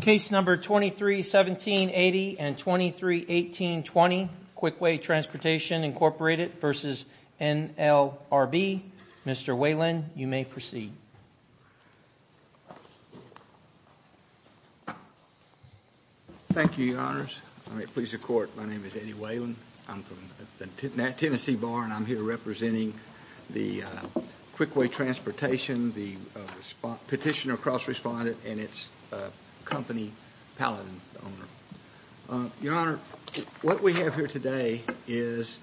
Case number 231780 and 231820, Quickway Transportation Inc v. NLRB. Mr. Whalen, you may proceed. Thank you, your honors. I may please the court. My name is Eddie Whalen. I'm from the Tennessee Bar, and I'm here representing the Quickway Transportation, the petitioner cross-respondent, and its company pallet owner. Your honor, what we have here today is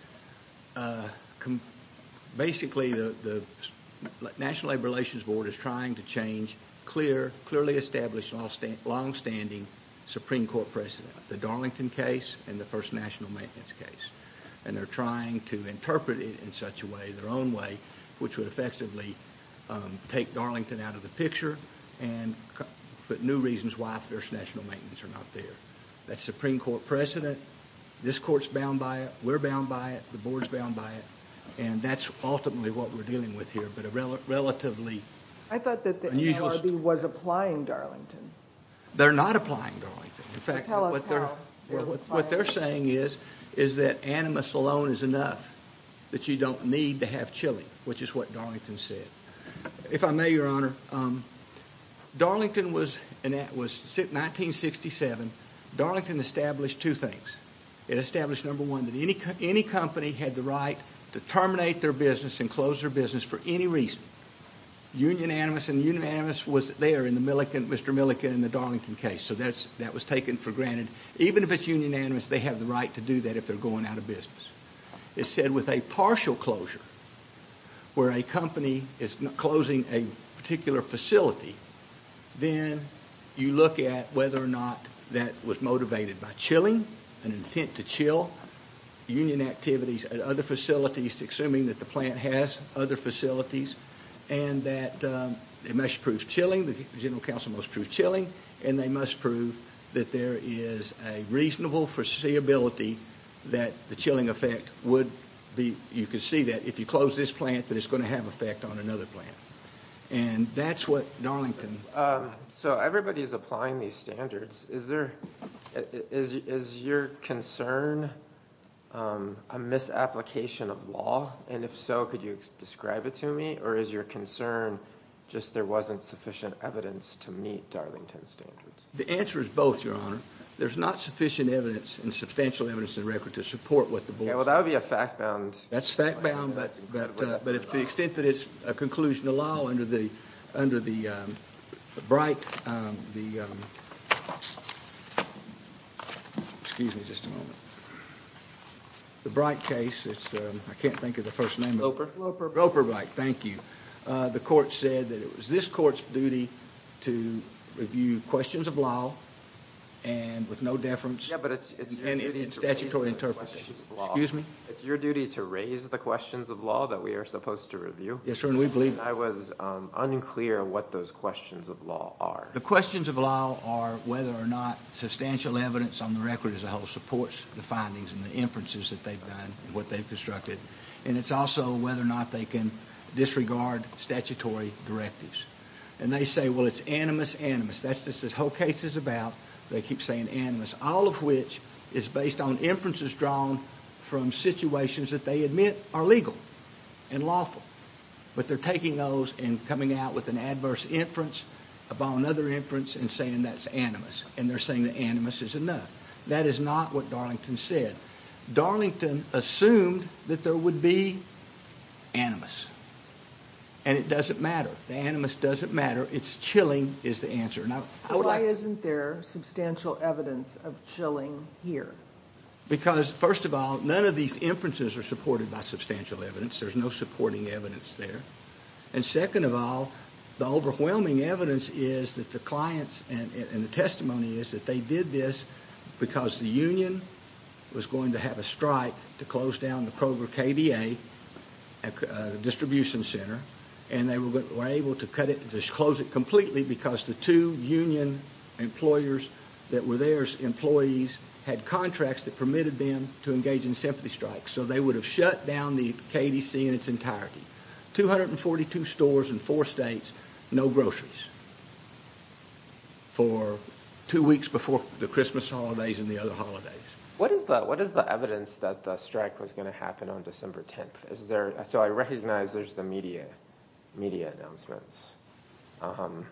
basically the National Labor Relations Board is trying to change clearly established, long-standing Supreme Court precedent. The Darlington case and the First National Maintenance case. And they're trying to interpret it in such a way, their own way, which would effectively take Darlington out of the picture and put new reasons why First National Maintenance are not there. That's Supreme Court precedent. This court's bound by it. We're bound by it. The board's bound by it. And that's ultimately what we're dealing with here, but a relatively unusual... I thought that the NLRB was applying Darlington. They're not applying Darlington. In fact, what they're saying is that Animus alone is enough, that you don't need to have Chili, which is what Darlington said. If I may, your honor, Darlington was, in 1967, Darlington established two things. It established, number one, that any company had the right to terminate their business and close their business for any reason. Union Animus, and Union Animus was there in Mr. Milliken and the Darlington case, so that was taken for granted. Even if it's Union Animus, they have the right to do that if they're going out of business. It said with a partial closure, where a company is closing a particular facility, then you look at whether or not that was motivated by chilling, an intent to chill, union activities at other facilities, at least assuming that the plant has other facilities, and that it must prove chilling, the general counsel must prove chilling, and they must prove that there is a reasonable foreseeability that the chilling effect would be... You can see that if you close this plant, that it's going to have an effect on another plant. And that's what Darlington... So everybody's applying these standards. Is your concern a misapplication of law? And if so, could you describe it to me? Or is your concern just there wasn't sufficient evidence to meet Darlington's standards? The answer is both, your honor. There's not sufficient evidence and substantial evidence in the record to support what the board... Yeah, well, that would be a fact-bound... But to the extent that it's a conclusion of law under the Bright... Excuse me just a moment. The Bright case, it's... I can't think of the first name... Gloper, right. Thank you. The court said that it was this court's duty to review questions of law with no deference... Yeah, but it's your duty to raise the questions of law. Excuse me? It's your duty to raise the questions of law that we are supposed to review. Yes, sir. And we believe that. I was unclear what those questions of law are. The questions of law are whether or not substantial evidence on the record as a whole supports the findings and the inferences that they've done and what they've constructed. And it's also whether or not they can disregard statutory directives. And they say, well, it's animus animus. That's what this whole case is about. They keep saying animus, all of which is based on inferences drawn from situations that they admit are legal and lawful. But they're taking those and coming out with an adverse inference about another inference and saying that's animus. And they're saying that animus is enough. That is not what Darlington said. Darlington assumed that there would be animus. And it doesn't matter. The animus doesn't matter. It's chilling is the answer. Why isn't there substantial evidence of chilling here? Because, first of all, none of these inferences are supported by substantial evidence. There's no supporting evidence there. And second of all, the overwhelming evidence is that the clients and the testimony is that they did this because the union was going to have a strike to close down the KVA distribution center. And they were able to close it completely because the two union employers that were their employees had contracts that permitted them to engage in sympathy strikes. So they would have shut down the KDC in its entirety. 242 stores in four states, no groceries for two weeks before the Christmas holidays and the other holidays. What is the evidence that the strike was going to happen on December 10th? So I recognize there's the media announcements. The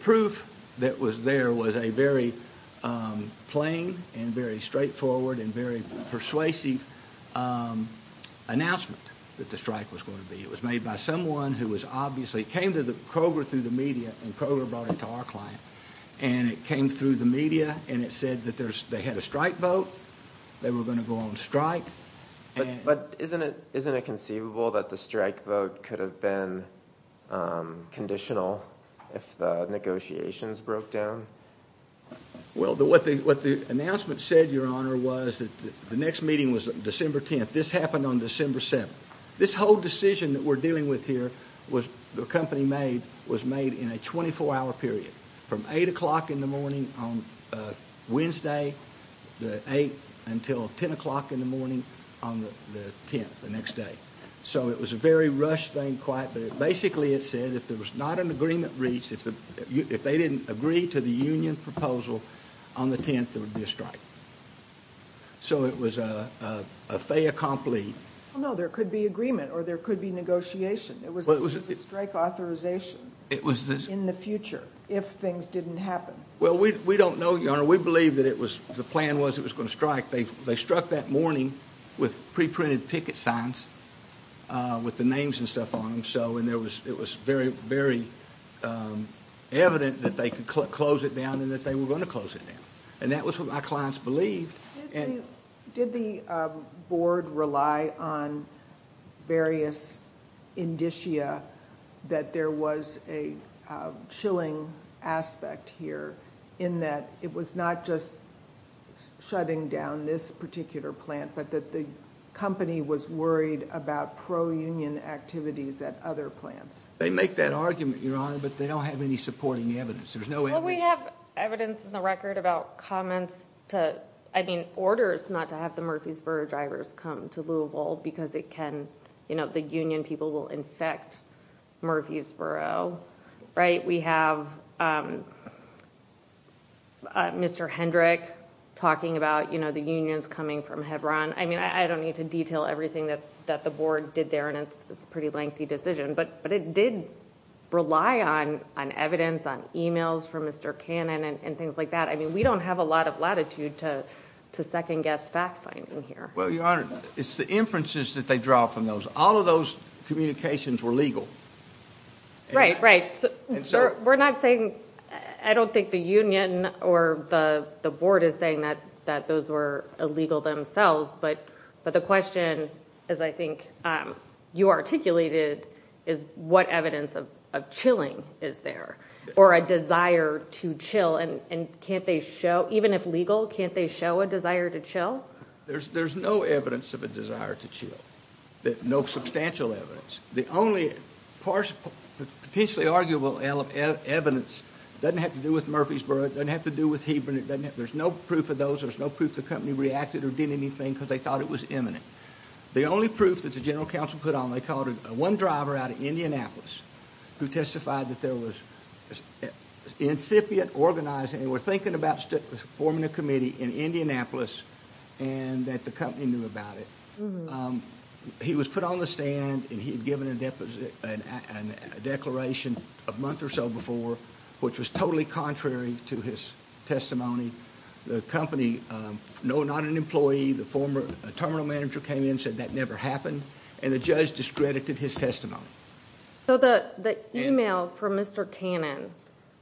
proof that was there was a very plain and very straightforward and very persuasive announcement that the strike was going to be. It was made by someone who obviously came to Kroger through the media and Kroger brought it to our client. And it came through the media and it said that they had a strike vote. They were going to go on strike. But isn't it conceivable that the strike vote could have been conditional if the negotiations broke down? Well, what the announcement said, Your Honor, was that the next meeting was December 10th. This happened on December 7th. This whole decision that we're dealing with here was the company made was made in a 24-hour period from 8 o'clock in the morning on Wednesday the 8th until 10 o'clock in the morning on the 10th, the next day. So it was a very rushed thing quite, but basically it said if there was not an agreement reached, if they didn't agree to the union proposal on the 10th, there would be a strike. So it was a fait accompli. No, there could be agreement or there could be negotiation. It was a strike authorization in the future if things didn't happen. Well, we don't know, Your Honor. We believe that the plan was it was going to strike. They struck that morning with pre-printed picket signs with the names and stuff on them. So it was very, very evident that they could close it down and that they were going to close it down. And that was what my clients believed. Did the board rely on various indicia that there was a chilling aspect here in that it was not just shutting down this particular plant, but that the company was worried about pro-union activities at other plants? They make that argument, Your Honor, but they don't have any supporting evidence. Well, we have evidence in the record about comments to, I mean, orders not to have the Murfreesboro drivers come to Louisville because it can, you know, the union people will infect Murfreesboro. Right. We have Mr. Hendrick talking about, you know, the unions coming from Hebron. I mean, I don't need to detail everything that the board did there, and it's a pretty lengthy decision. But it did rely on evidence, on emails from Mr. Cannon and things like that. I mean, we don't have a lot of latitude to second-guess fact-finding here. Well, Your Honor, it's the inferences that they draw from those. All of those communications were legal. Right, right. We're not saying, I don't think the union or the board is saying that those were illegal themselves. But the question, as I think you articulated, is what evidence of chilling is there or a desire to chill? And can't they show, even if legal, can't they show a desire to chill? There's no evidence of a desire to chill, no substantial evidence. The only potentially arguable evidence doesn't have to do with Murfreesboro. It doesn't have to do with Hebron. There's no proof of those. There's no proof the company reacted or did anything because they thought it was imminent. The only proof that the general counsel put on, they called one driver out of Indianapolis who testified that there was incipient organizing, they were thinking about forming a committee in Indianapolis and that the company knew about it. He was put on the stand and he had given a declaration a month or so before, which was totally contrary to his testimony. The company, no, not an employee, the former terminal manager came in and said that never happened, and the judge discredited his testimony. So the email from Mr. Cannon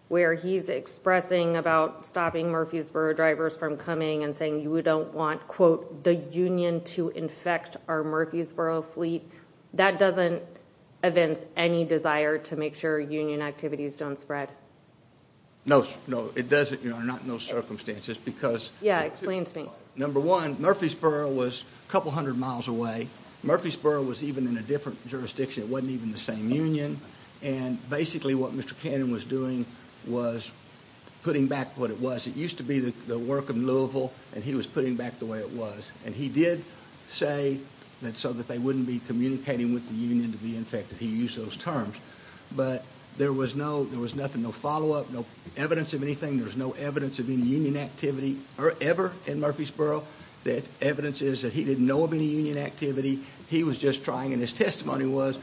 where he's expressing about stopping Murfreesboro drivers from coming and saying you don't want, quote, the union to infect our Murfreesboro fleet, that doesn't evince any desire to make sure union activities don't spread. No, no, it doesn't, not in those circumstances. Yeah, explain to me. Number one, Murfreesboro was a couple hundred miles away. Murfreesboro was even in a different jurisdiction. It wasn't even the same union. And basically what Mr. Cannon was doing was putting back what it was. It used to be the work of Louisville, and he was putting back the way it was. And he did say so that they wouldn't be communicating with the union to be infected. He used those terms. But there was nothing, no follow-up, no evidence of anything. There was no evidence of any union activity ever in Murfreesboro. The evidence is that he didn't know of any union activity. He was just trying, and his testimony was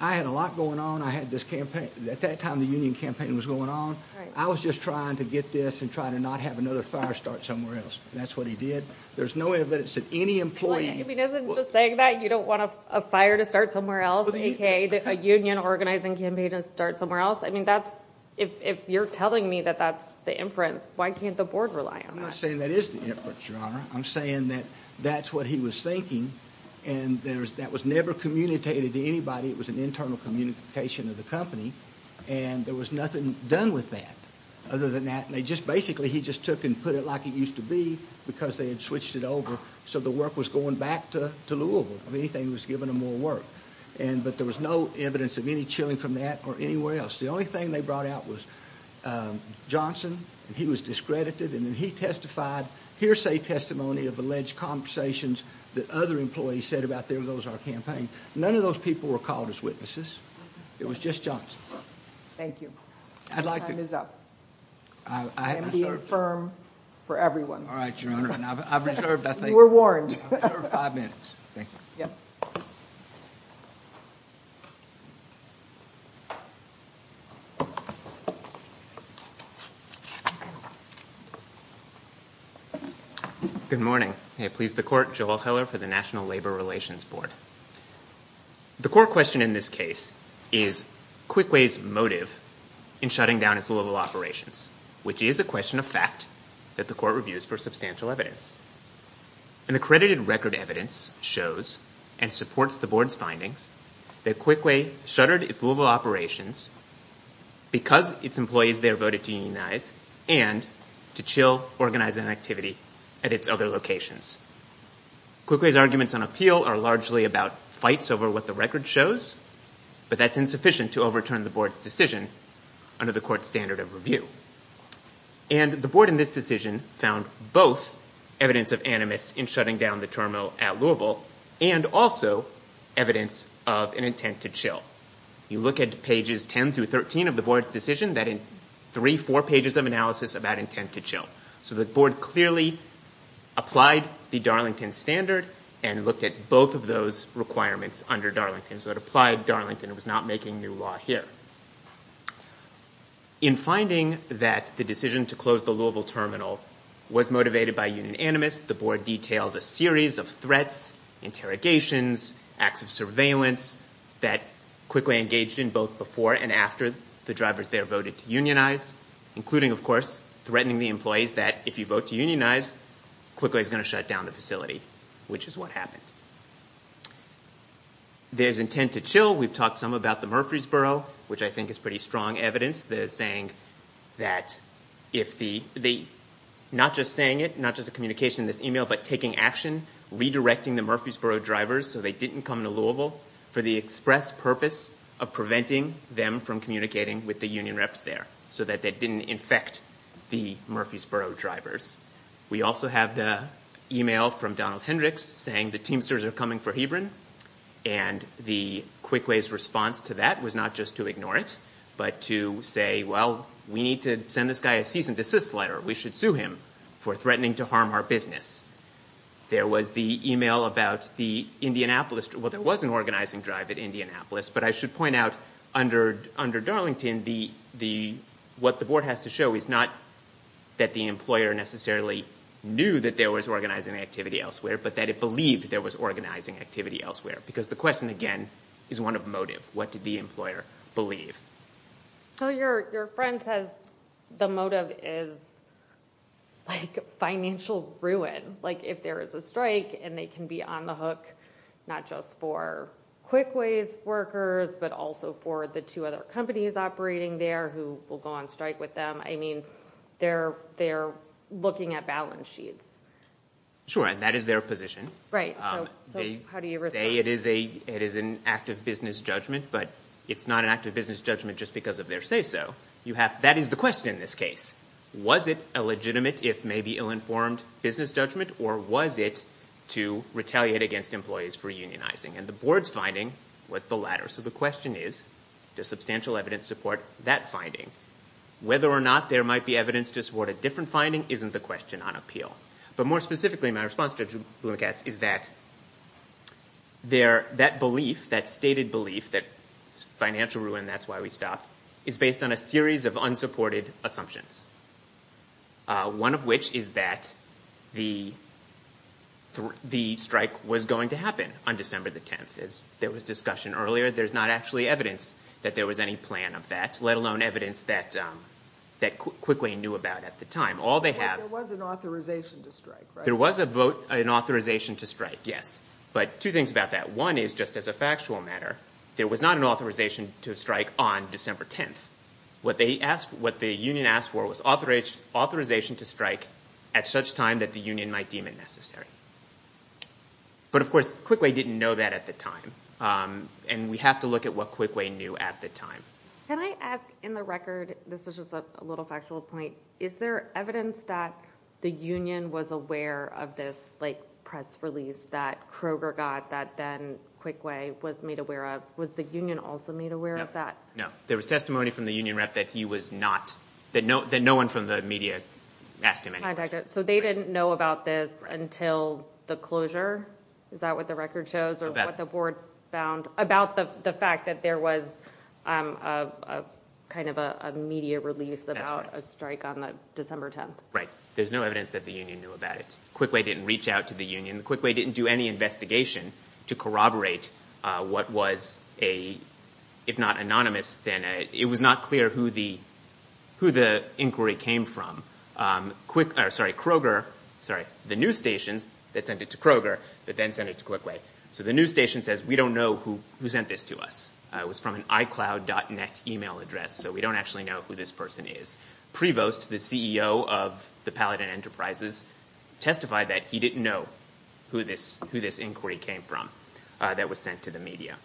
I had a lot going on. I had this campaign. At that time the union campaign was going on. I was just trying to get this and try to not have another fire start somewhere else. That's what he did. There's no evidence that any employee. He wasn't just saying that you don't want a fire to start somewhere else, a union organizing campaign to start somewhere else. I mean that's, if you're telling me that that's the inference, why can't the board rely on that? I'm not saying that is the inference, Your Honor. I'm saying that that's what he was thinking, and that was never communicated to anybody. It was an internal communication of the company. And there was nothing done with that other than that. Basically he just took and put it like it used to be because they had switched it over so the work was going back to Louisville. If anything, he was giving them more work. But there was no evidence of any chilling from that or anywhere else. The only thing they brought out was Johnson, and he was discredited, and then he testified, hearsay testimony of alleged conversations that other employees said about there goes our campaign. None of those people were called as witnesses. It was just Johnson. Thank you. Your time is up. I have not served. And be firm for everyone. All right, Your Honor, and I've reserved, I think. You were warned. I've reserved five minutes. Thank you. Yes. Good morning. May it please the Court, Joel Heller for the National Labor Relations Board. The core question in this case is Quickway's motive in shutting down its Louisville operations, which is a question of fact that the Court reviews for substantial evidence. And the credited record evidence shows and supports the Board's findings that Quickway shuttered its Louisville operations because its employees there voted to unionize and to chill, organize an activity at its other locations. Quickway's arguments on appeal are largely about fights over what the record shows, but that's insufficient to overturn the Board's decision under the Court's standard of review. And the Board in this decision found both evidence of animus in shutting down the terminal at Louisville and also evidence of an intent to chill. You look at pages 10 through 13 of the Board's decision, that in three, four pages of analysis about intent to chill. So the Board clearly applied the Darlington standard and looked at both of those requirements under Darlington. So it applied Darlington. It was not making new law here. In finding that the decision to close the Louisville terminal was motivated by union animus, the Board detailed a series of threats, interrogations, acts of surveillance that Quickway engaged in both before and after the drivers there voted to unionize, including, of course, threatening the employees that if you vote to unionize, Quickway's going to shut down the facility, which is what happened. There's intent to chill. We've talked some about the Murfreesboro, which I think is pretty strong evidence. They're saying that if the—not just saying it, not just a communication in this email, but taking action, redirecting the Murfreesboro drivers so they didn't come to Louisville for the express purpose of preventing them from communicating with the union reps there so that that didn't infect the Murfreesboro drivers. We also have the email from Donald Hendricks saying the Teamsters are coming for Hebron, and the Quickway's response to that was not just to ignore it, but to say, well, we need to send this guy a cease and desist letter. We should sue him for threatening to harm our business. There was the email about the Indianapolis—well, there was an organizing drive at Indianapolis, but I should point out under Darlington, what the board has to show is not that the employer necessarily knew that there was organizing activity elsewhere, but that it believed there was organizing activity elsewhere, because the question, again, is one of motive. What did the employer believe? Your friend says the motive is financial ruin. If there is a strike and they can be on the hook not just for Quickway's workers, but also for the two other companies operating there who will go on strike with them, I mean, they're looking at balance sheets. Sure, and that is their position. Right, so how do you respond? They say it is an act of business judgment, but it's not an act of business judgment just because of their say-so. That is the question in this case. Was it a legitimate, if maybe ill-informed, business judgment, or was it to retaliate against employees for unionizing? And the board's finding was the latter. So the question is, does substantial evidence support that finding? Whether or not there might be evidence to support a different finding isn't the question on appeal. But more specifically, my response to Judge Blumenkatz is that that belief, that stated belief that financial ruin, that's why we stopped, is based on a series of unsupported assumptions, one of which is that the strike was going to happen on December the 10th. There was discussion earlier. There's not actually evidence that there was any plan of that, let alone evidence that Quickway knew about at the time. There was an authorization to strike, right? There was an authorization to strike, yes. But two things about that. One is, just as a factual matter, there was not an authorization to strike on December 10th. What the union asked for was authorization to strike at such time that the union might deem it necessary. But, of course, Quickway didn't know that at the time, and we have to look at what Quickway knew at the time. Can I ask, in the record, this is just a little factual point, is there evidence that the union was aware of this press release that Kroger got that then Quickway was made aware of? Was the union also made aware of that? No. There was testimony from the union rep that he was not, that no one from the media asked him any questions. So they didn't know about this until the closure? Is that what the record shows, or what the board found, about the fact that there was kind of a media release about a strike on December 10th? Right. There's no evidence that the union knew about it. Quickway didn't reach out to the union. Quickway didn't do any investigation to corroborate what was a, if not anonymous, then it was not clear who the inquiry came from. Kroger, sorry, the news stations that sent it to Kroger, but then sent it to Quickway. So the news station says, we don't know who sent this to us. It was from an iCloud.net email address, so we don't actually know who this person is. Prevost, the CEO of the Paladin Enterprises, testified that he didn't know who this inquiry came from that was sent to the media.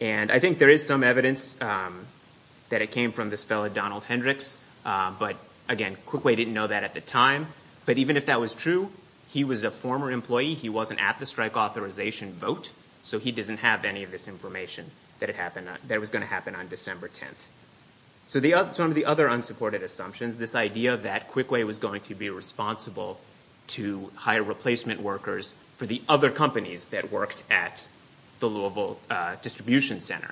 And I think there is some evidence that it came from this fellow Donald Hendricks, but again, Quickway didn't know that at the time. But even if that was true, he was a former employee. He wasn't at the strike authorization vote, so he doesn't have any of this information that it happened, that it was going to happen on December 10th. So some of the other unsupported assumptions, this idea that Quickway was going to be responsible to hire replacement workers for the other companies that worked at the Louisville Distribution Center.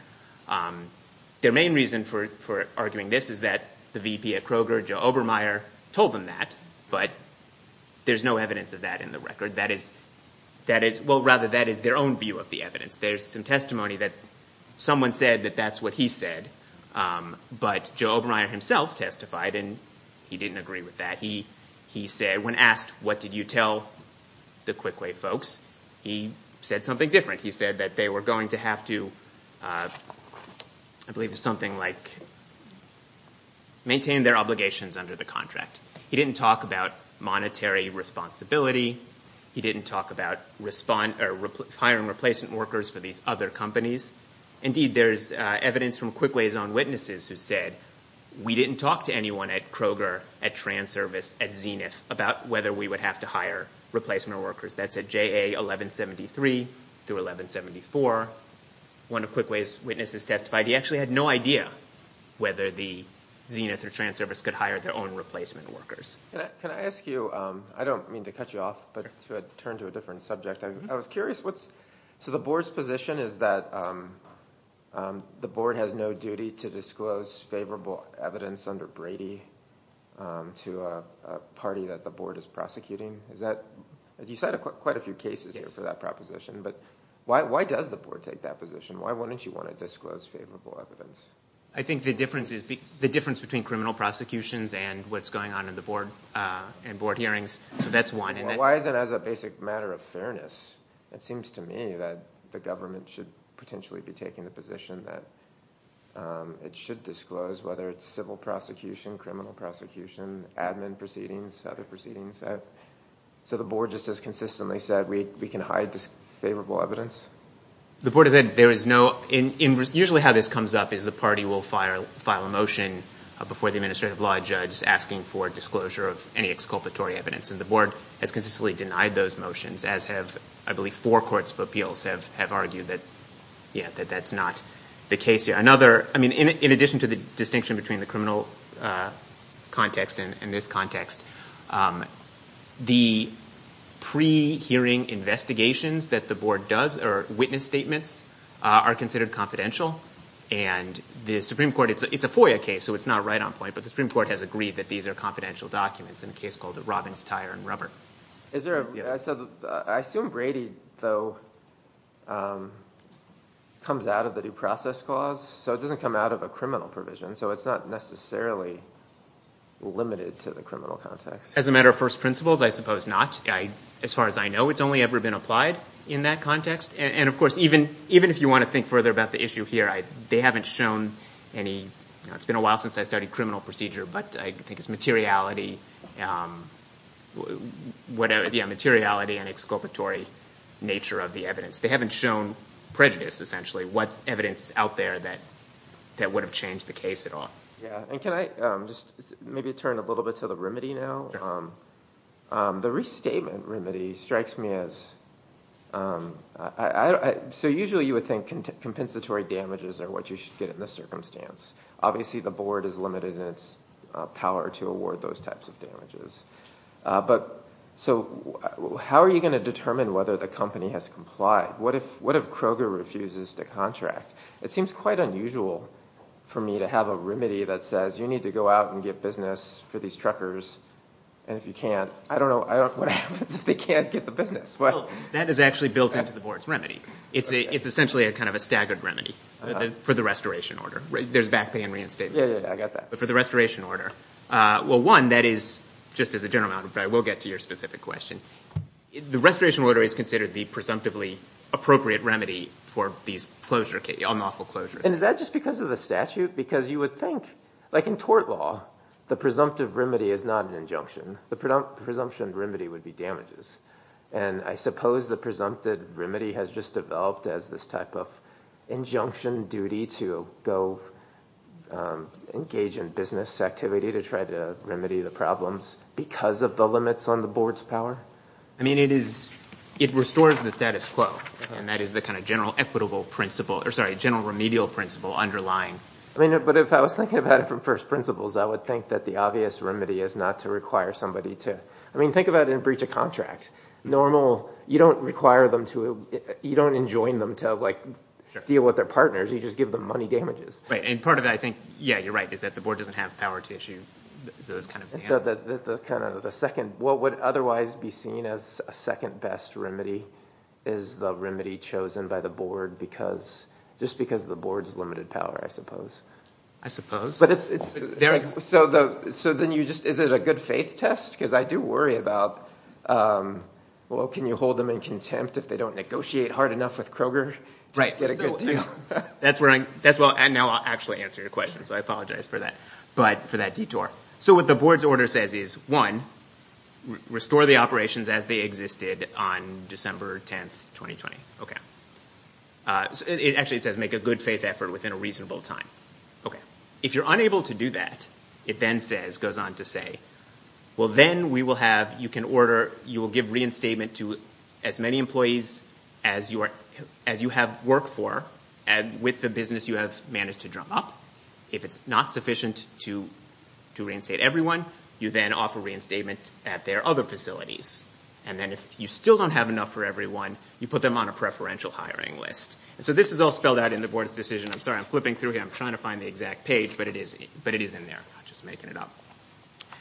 Their main reason for arguing this is that the VP at Kroger, Joe Obermeier, told them that, but there's no evidence of that in the record. That is, well, rather, that is their own view of the evidence. There's some testimony that someone said that that's what he said, but Joe Obermeier himself testified, and he didn't agree with that. He said, when asked, what did you tell the Quickway folks, he said something different. He said that they were going to have to, I believe it was something like, maintain their obligations under the contract. He didn't talk about monetary responsibility. He didn't talk about hiring replacement workers for these other companies. Indeed, there's evidence from Quickway's own witnesses who said, we didn't talk to anyone at Kroger, at Transervice, at Zenith, about whether we would have to hire replacement workers. That's at JA 1173 through 1174. One of Quickway's witnesses testified he actually had no idea whether the Zenith or Transervice could hire their own replacement workers. Can I ask you, I don't mean to cut you off, but to turn to a different subject. I was curious, so the board's position is that the board has no duty to disclose favorable evidence under Brady to a party that the board is prosecuting? You cited quite a few cases here for that proposition, but why does the board take that position? Why wouldn't you want to disclose favorable evidence? I think the difference between criminal prosecutions and what's going on in the board hearings, so that's one. Why is it as a basic matter of fairness? It seems to me that the government should potentially be taking the position that it should disclose whether it's civil prosecution, criminal prosecution, admin proceedings, other proceedings. So the board just has consistently said we can hide favorable evidence? The board has said there is no, usually how this comes up is the party will file a motion before the administrative law judge asking for disclosure of any exculpatory evidence, and the board has consistently denied those motions, as have I believe four courts of appeals have argued that that's not the case here. In addition to the distinction between the criminal context and this context, the pre-hearing investigations that the board does or witness statements are considered confidential, and the Supreme Court, it's a FOIA case so it's not right on point, but the Supreme Court has agreed that these are confidential documents in a case called Robbins Tire and Rubber. I assume Brady, though, comes out of the due process clause, so it doesn't come out of a criminal provision, so it's not necessarily limited to the criminal context. As a matter of first principles, I suppose not. As far as I know, it's only ever been applied in that context, and of course even if you want to think further about the issue here, they haven't shown any, it's been a while since I studied criminal procedure, but I think it's materiality and exculpatory nature of the evidence. They haven't shown prejudice, essentially, what evidence is out there that would have changed the case at all. Yeah, and can I just maybe turn a little bit to the remedy now? The restatement remedy strikes me as, so usually you would think compensatory damages are what you should get in this circumstance. Obviously the board is limited in its power to award those types of damages. So how are you going to determine whether the company has complied? What if Kroger refuses to contract? It seems quite unusual for me to have a remedy that says, you need to go out and get business for these truckers, and if you can't, I don't know what happens if they can't get the business. Well, that is actually built into the board's remedy. It's essentially kind of a staggered remedy for the restoration order. There's back pay and reinstatement. Yeah, yeah, I got that. But for the restoration order, well, one, that is just as a general matter, but I will get to your specific question. The restoration order is considered the presumptively appropriate remedy for these unlawful closures. And is that just because of the statute? Because you would think, like in tort law, the presumptive remedy is not an injunction. The presumption remedy would be damages. And I suppose the presumpted remedy has just developed as this type of injunction duty to go engage in business activity to try to remedy the problems because of the limits on the board's power. I mean, it is, it restores the status quo, and that is the kind of general equitable principle, or sorry, general remedial principle underlying. I mean, but if I was thinking about it from first principles, I would think that the obvious remedy is not to require somebody to, I mean, think about a breach of contract. Normal, you don't require them to, you don't enjoin them to, like, deal with their partners. You just give them money damages. Right, and part of that, I think, yeah, you're right, is that the board doesn't have power to issue those kind of damages. So the second, what would otherwise be seen as a second best remedy is the remedy chosen by the board because, just because the board's limited power, I suppose. I suppose. So then you just, is it a good faith test? Because I do worry about, well, can you hold them in contempt if they don't negotiate hard enough with Kroger to get a good deal? That's where I, and now I'll actually answer your question, so I apologize for that, but for that detour. So what the board's order says is, one, restore the operations as they existed on December 10, 2020. Actually, it says make a good faith effort within a reasonable time. Okay. If you're unable to do that, it then says, goes on to say, well, then we will have, you can order, you will give reinstatement to as many employees as you have worked for with the business you have managed to drum up. If it's not sufficient to reinstate everyone, you then offer reinstatement at their other facilities. And then if you still don't have enough for everyone, you put them on a preferential hiring list. So this is all spelled out in the board's decision. I'm sorry, I'm flipping through here. I'm trying to find the exact page, but it is in there. I'm just making it up.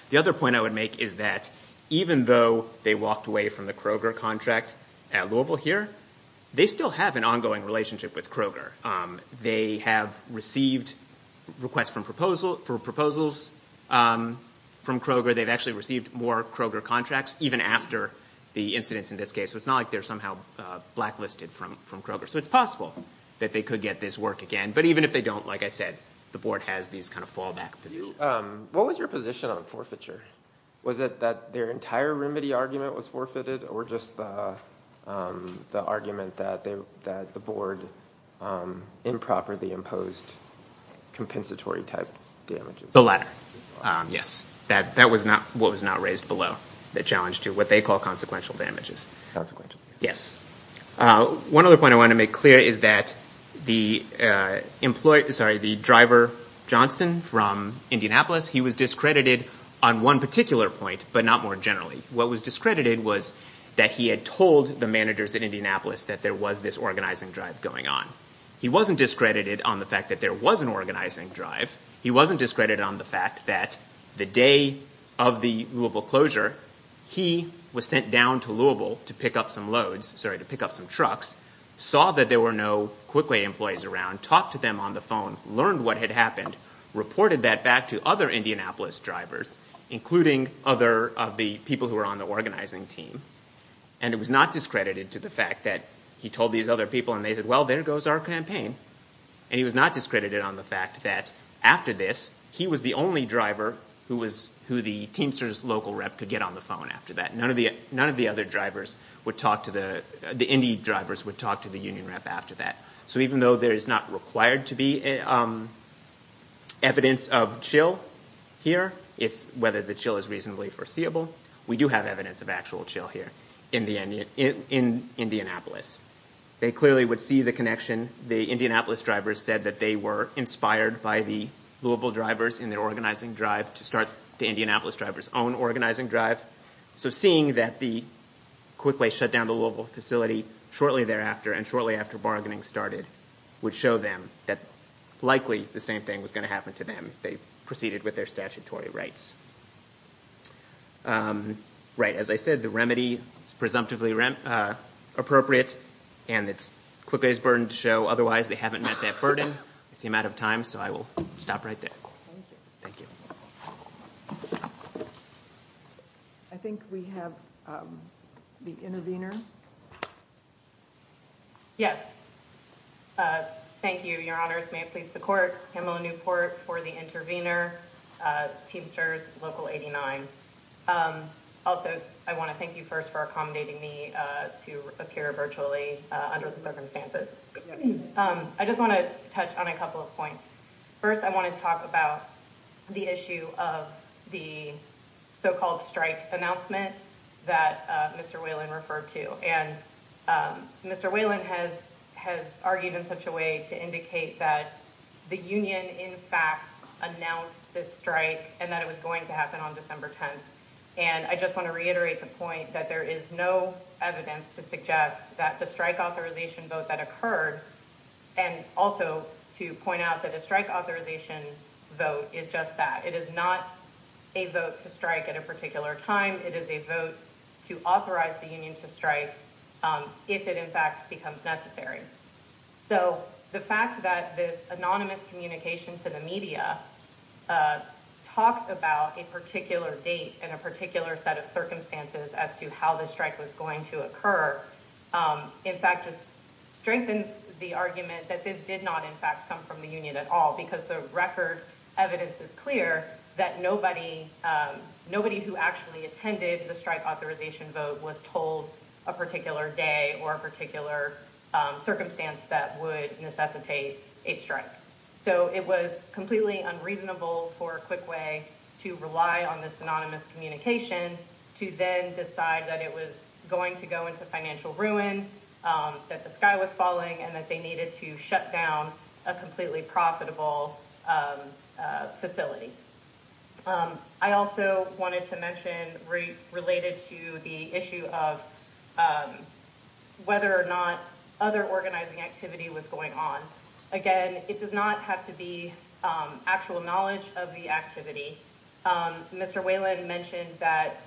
The other point I would make is that even though they walked away from the Kroger contract at Louisville here, they still have an ongoing relationship with Kroger. They have received requests for proposals from Kroger. They've actually received more Kroger contracts even after the incidents in this case. So it's not like they're somehow blacklisted from Kroger. So it's possible that they could get this work again. But even if they don't, like I said, the board has these kind of fallback positions. What was your position on forfeiture? Was it that their entire remedy argument was forfeited or just the argument that the board improperly imposed compensatory type damages? The latter, yes. That was not raised below the challenge to what they call consequential damages. One other point I want to make clear is that the driver, Johnson, from Indianapolis, he was discredited on one particular point, but not more generally. What was discredited was that he had told the managers in Indianapolis that there was this organizing drive going on. He wasn't discredited on the fact that there was an organizing drive. He wasn't discredited on the fact that the day of the Louisville closure, he was sent down to Louisville to pick up some loads, sorry, to pick up some trucks, saw that there were no Quickway employees around, talked to them on the phone, learned what had happened, reported that back to other Indianapolis drivers, including other of the people who were on the organizing team. And it was not discredited to the fact that he told these other people and they said, well, there goes our campaign. And he was not discredited on the fact that after this, he was the only driver who the Teamsters local rep could get on the phone after that. None of the other drivers would talk to the, the Indy drivers would talk to the union rep after that. So even though there is not required to be evidence of chill here, whether the chill is reasonably foreseeable, we do have evidence of actual chill here in Indianapolis. They clearly would see the connection. The Indianapolis drivers said that they were inspired by the Louisville drivers in their organizing drive to start the Indianapolis drivers' own organizing drive. So seeing that the Quickway shut down the Louisville facility shortly thereafter and shortly after bargaining started would show them that likely the same thing was going to happen to them if they proceeded with their statutory rights. Right. As I said, the remedy is presumptively appropriate and it's Quickway's burden to show. Otherwise, they haven't met that burden. I see I'm out of time, so I will stop right there. Thank you. I think we have the intervener. Yes. Thank you, Your Honors. May it please the court. Pamela Newport for the intervener. Teamsters, Local 89. Also, I want to thank you first for accommodating me to appear virtually under the circumstances. I just want to touch on a couple of points. First, I want to talk about the issue of the so-called strike announcement that Mr. Whelan referred to. And Mr. Whelan has argued in such a way to indicate that the union in fact announced this strike and that it was going to happen on December 10th. And I just want to reiterate the point that there is no evidence to suggest that the strike authorization vote that occurred and also to point out that a strike authorization vote is just that. It is not a vote to strike at a particular time. It is a vote to authorize the union to strike if it in fact becomes necessary. So the fact that this anonymous communication to the media talked about a particular date and a particular set of circumstances as to how the strike was going to occur in fact just strengthens the argument that this did not in fact come from the union at all because the record evidence is clear that nobody who actually attended the strike authorization vote was told a particular day or a particular circumstance that would necessitate a strike. So it was completely unreasonable for Quickway to rely on this anonymous communication to then decide that it was going to go into financial ruin, that the sky was falling, and that they needed to shut down a completely profitable facility. I also wanted to mention related to the issue of whether or not other organizing activity was going on. Again, it does not have to be actual knowledge of the activity. Mr. Whelan mentioned that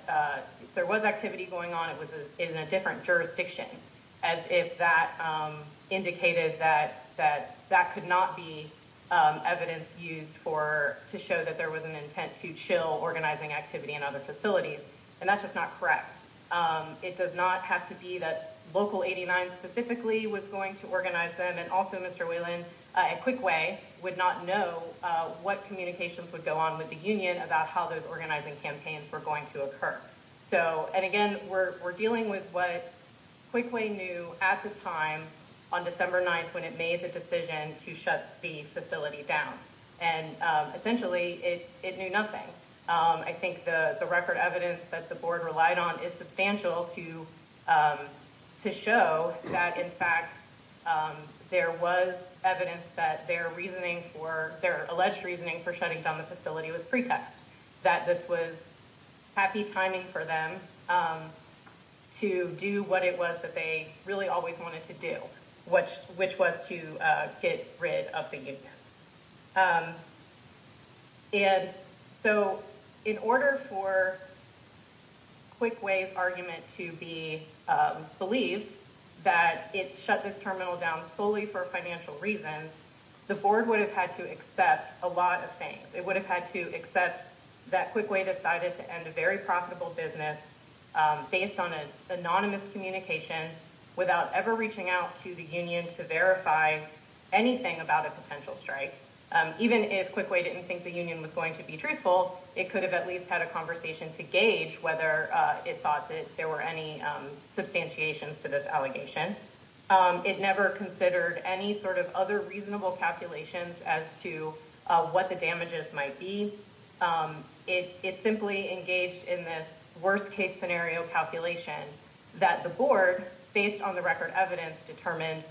there was activity going on. It was in a different jurisdiction as if that indicated that that could not be evidence used to show that there was an intent to chill organizing activity in other facilities, and that's just not correct. It does not have to be that Local 89 specifically was going to organize them, and also Mr. Whelan at Quickway would not know what communications would go on with the union about how those organizing campaigns were going to occur. Again, we're dealing with what Quickway knew at the time on December 9th when it made the decision to shut the facility down. Essentially, it knew nothing. I think the record evidence that the board relied on is substantial to show that, in fact, there was evidence that their alleged reasoning for shutting down the facility was pretext, that this was happy timing for them to do what it was that they really always wanted to do, which was to get rid of the union. In order for Quickway's argument to be believed that it shut this terminal down solely for financial reasons, the board would have had to accept a lot of things. It would have had to accept that Quickway decided to end a very profitable business based on an anonymous communication without ever reaching out to the union to verify anything about a potential strike. Even if Quickway didn't think the union was going to be truthful, it could have at least had a conversation to gauge whether it thought that there were any substantiations to this allegation. It never considered any sort of other reasonable calculations as to what the damages might be. It simply engaged in this worst-case scenario calculation that the board, based on the record evidence, determined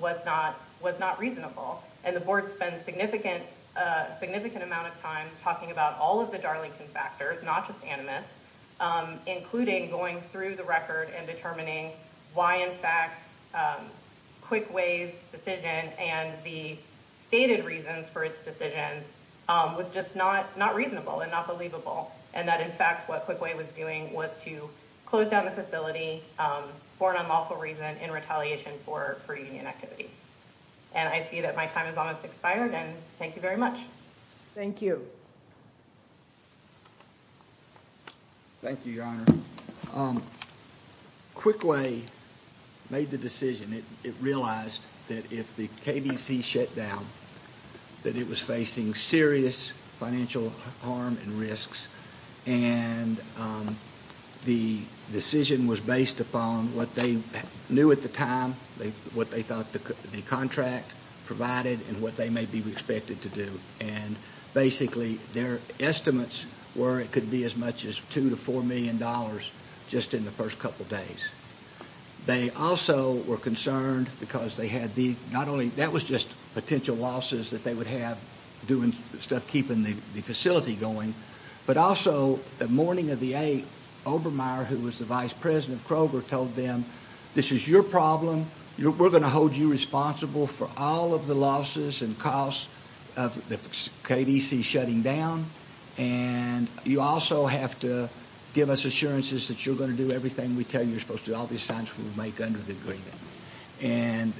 was not reasonable. The board spent a significant amount of time talking about all of the Darlington factors, not just animus, including going through the record and determining why, in fact, Quickway's decision and the stated reasons for its decisions was just not reasonable and not believable, and that, in fact, what Quickway was doing was to close down the facility for an unlawful reason in retaliation for union activity. I see that my time has almost expired, and thank you very much. Thank you. Thank you, Your Honor. Quickway made the decision. It realized that if the KDC shut down, that it was facing serious financial harm and risks, and the decision was based upon what they knew at the time, what they thought the contract provided and what they may be expected to do, and basically their estimates were it could be as much as $2 million to $4 million just in the first couple of days. They also were concerned because they had these, not only that was just potential losses that they would have doing stuff keeping the facility going, but also the morning of the 8th, Obermeyer, who was the vice president of Kroger, told them, this is your problem. We're going to hold you responsible for all of the losses and costs of the KDC shutting down, and you also have to give us assurances that you're going to do everything we tell you you're supposed to do, all these signs we'll make under the agreement. And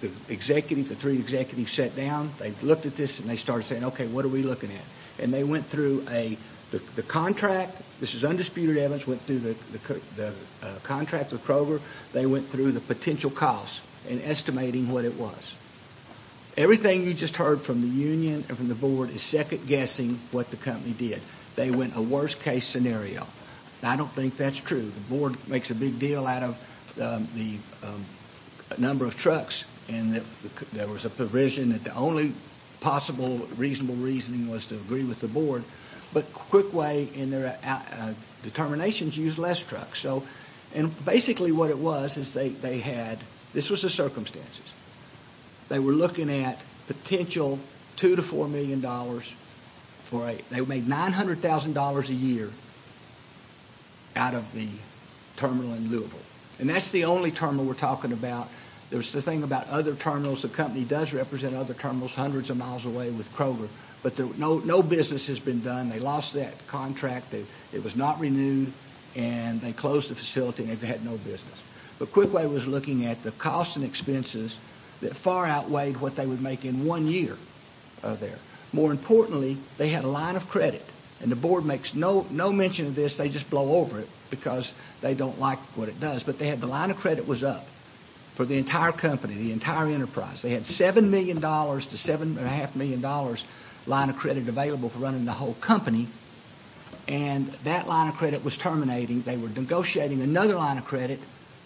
the three executives sat down, they looked at this, and they started saying, okay, what are we looking at? And they went through the contract. This is undisputed evidence. They went through the contract with Kroger. They went through the potential costs and estimating what it was. Everything you just heard from the union and from the board is second-guessing what the company did. They went a worst-case scenario. I don't think that's true. The board makes a big deal out of the number of trucks and that there was a provision that the only possible reasonable reasoning was to agree with the board, but Quickway in their determinations used less trucks. And basically what it was is they had, this was the circumstances. They were looking at potential $2 million to $4 million. They made $900,000 a year out of the terminal in Louisville. And that's the only terminal we're talking about. There's the thing about other terminals, the company does represent other terminals hundreds of miles away with Kroger, but no business has been done. They lost that contract. It was not renewed, and they closed the facility and they had no business. But Quickway was looking at the costs and expenses that far outweighed what they would make in one year there. More importantly, they had a line of credit, and the board makes no mention of this. They just blow over it because they don't like what it does. But the line of credit was up for the entire company, the entire enterprise. They had $7 million to $7.5 million line of credit available for running the whole company. And that line of credit was terminating. They were negotiating another line of credit,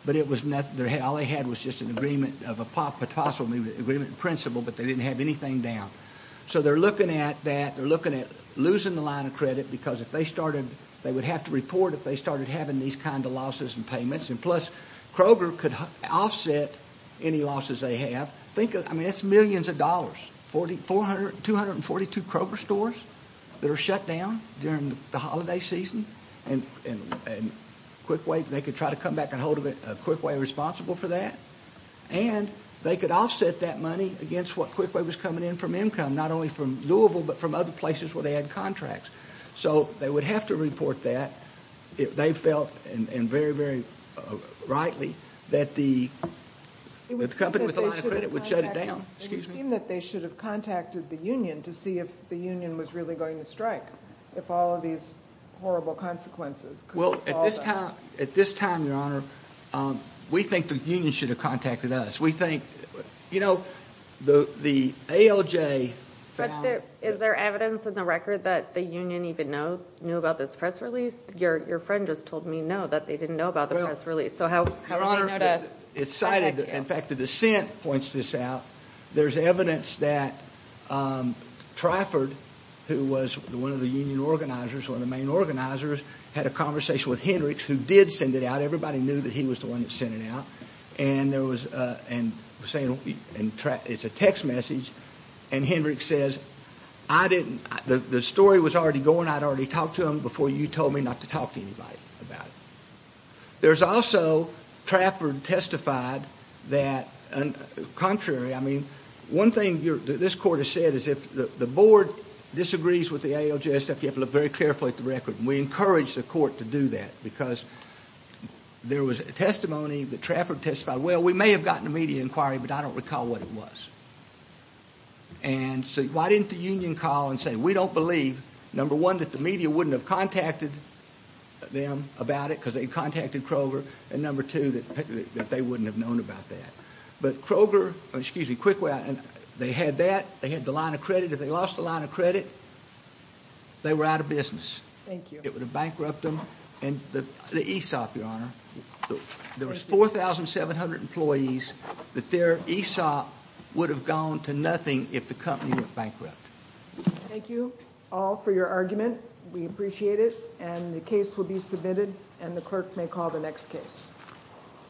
but all they had was just an agreement, a possible agreement in principle, but they didn't have anything down. So they're looking at that. They're looking at losing the line of credit because they would have to report if they started having these kind of losses and payments. Plus, Kroger could offset any losses they have. Think of it. I mean, it's millions of dollars. 242 Kroger stores that are shut down during the holiday season, and QuickWay, they could try to come back and hold QuickWay responsible for that. And they could offset that money against what QuickWay was coming in from income, not only from Louisville, but from other places where they had contracts. So they would have to report that. They felt, and very, very rightly, that the company with the line of credit would shut it down. It would seem that they should have contacted the union to see if the union was really going to strike, if all of these horrible consequences could fall on them. Well, at this time, Your Honor, we think the union should have contacted us. We think, you know, the ALJ found... But is there evidence in the record that the union even knew about this press release? Your friend just told me, no, that they didn't know about the press release. So how did they know to contact you? It's cited. In fact, the dissent points this out. There's evidence that Trafford, who was one of the union organizers, one of the main organizers, had a conversation with Hendricks, who did send it out. Everybody knew that he was the one that sent it out. And it's a text message, and Hendricks says, I didn't... The story was already going. I'd already talked to him before you told me not to talk to anybody about it. There's also... Trafford testified that... Contrary, I mean, one thing that this court has said is if the board disagrees with the ALJ, you have to look very carefully at the record. We encourage the court to do that because there was testimony that Trafford testified, well, we may have gotten a media inquiry, but I don't recall what it was. And so why didn't the union call and say, we don't believe, number one, that the media wouldn't have contacted them about it because they contacted Kroger, and number two, that they wouldn't have known about that. But Kroger, excuse me, they had that. They had the line of credit. If they lost the line of credit, they were out of business. It would have bankrupt them. And the ESOP, Your Honor, there was 4,700 employees that their ESOP would have gone to nothing if the company went bankrupt. Thank you all for your argument. We appreciate it, and the case will be submitted, and the clerk may call the next case.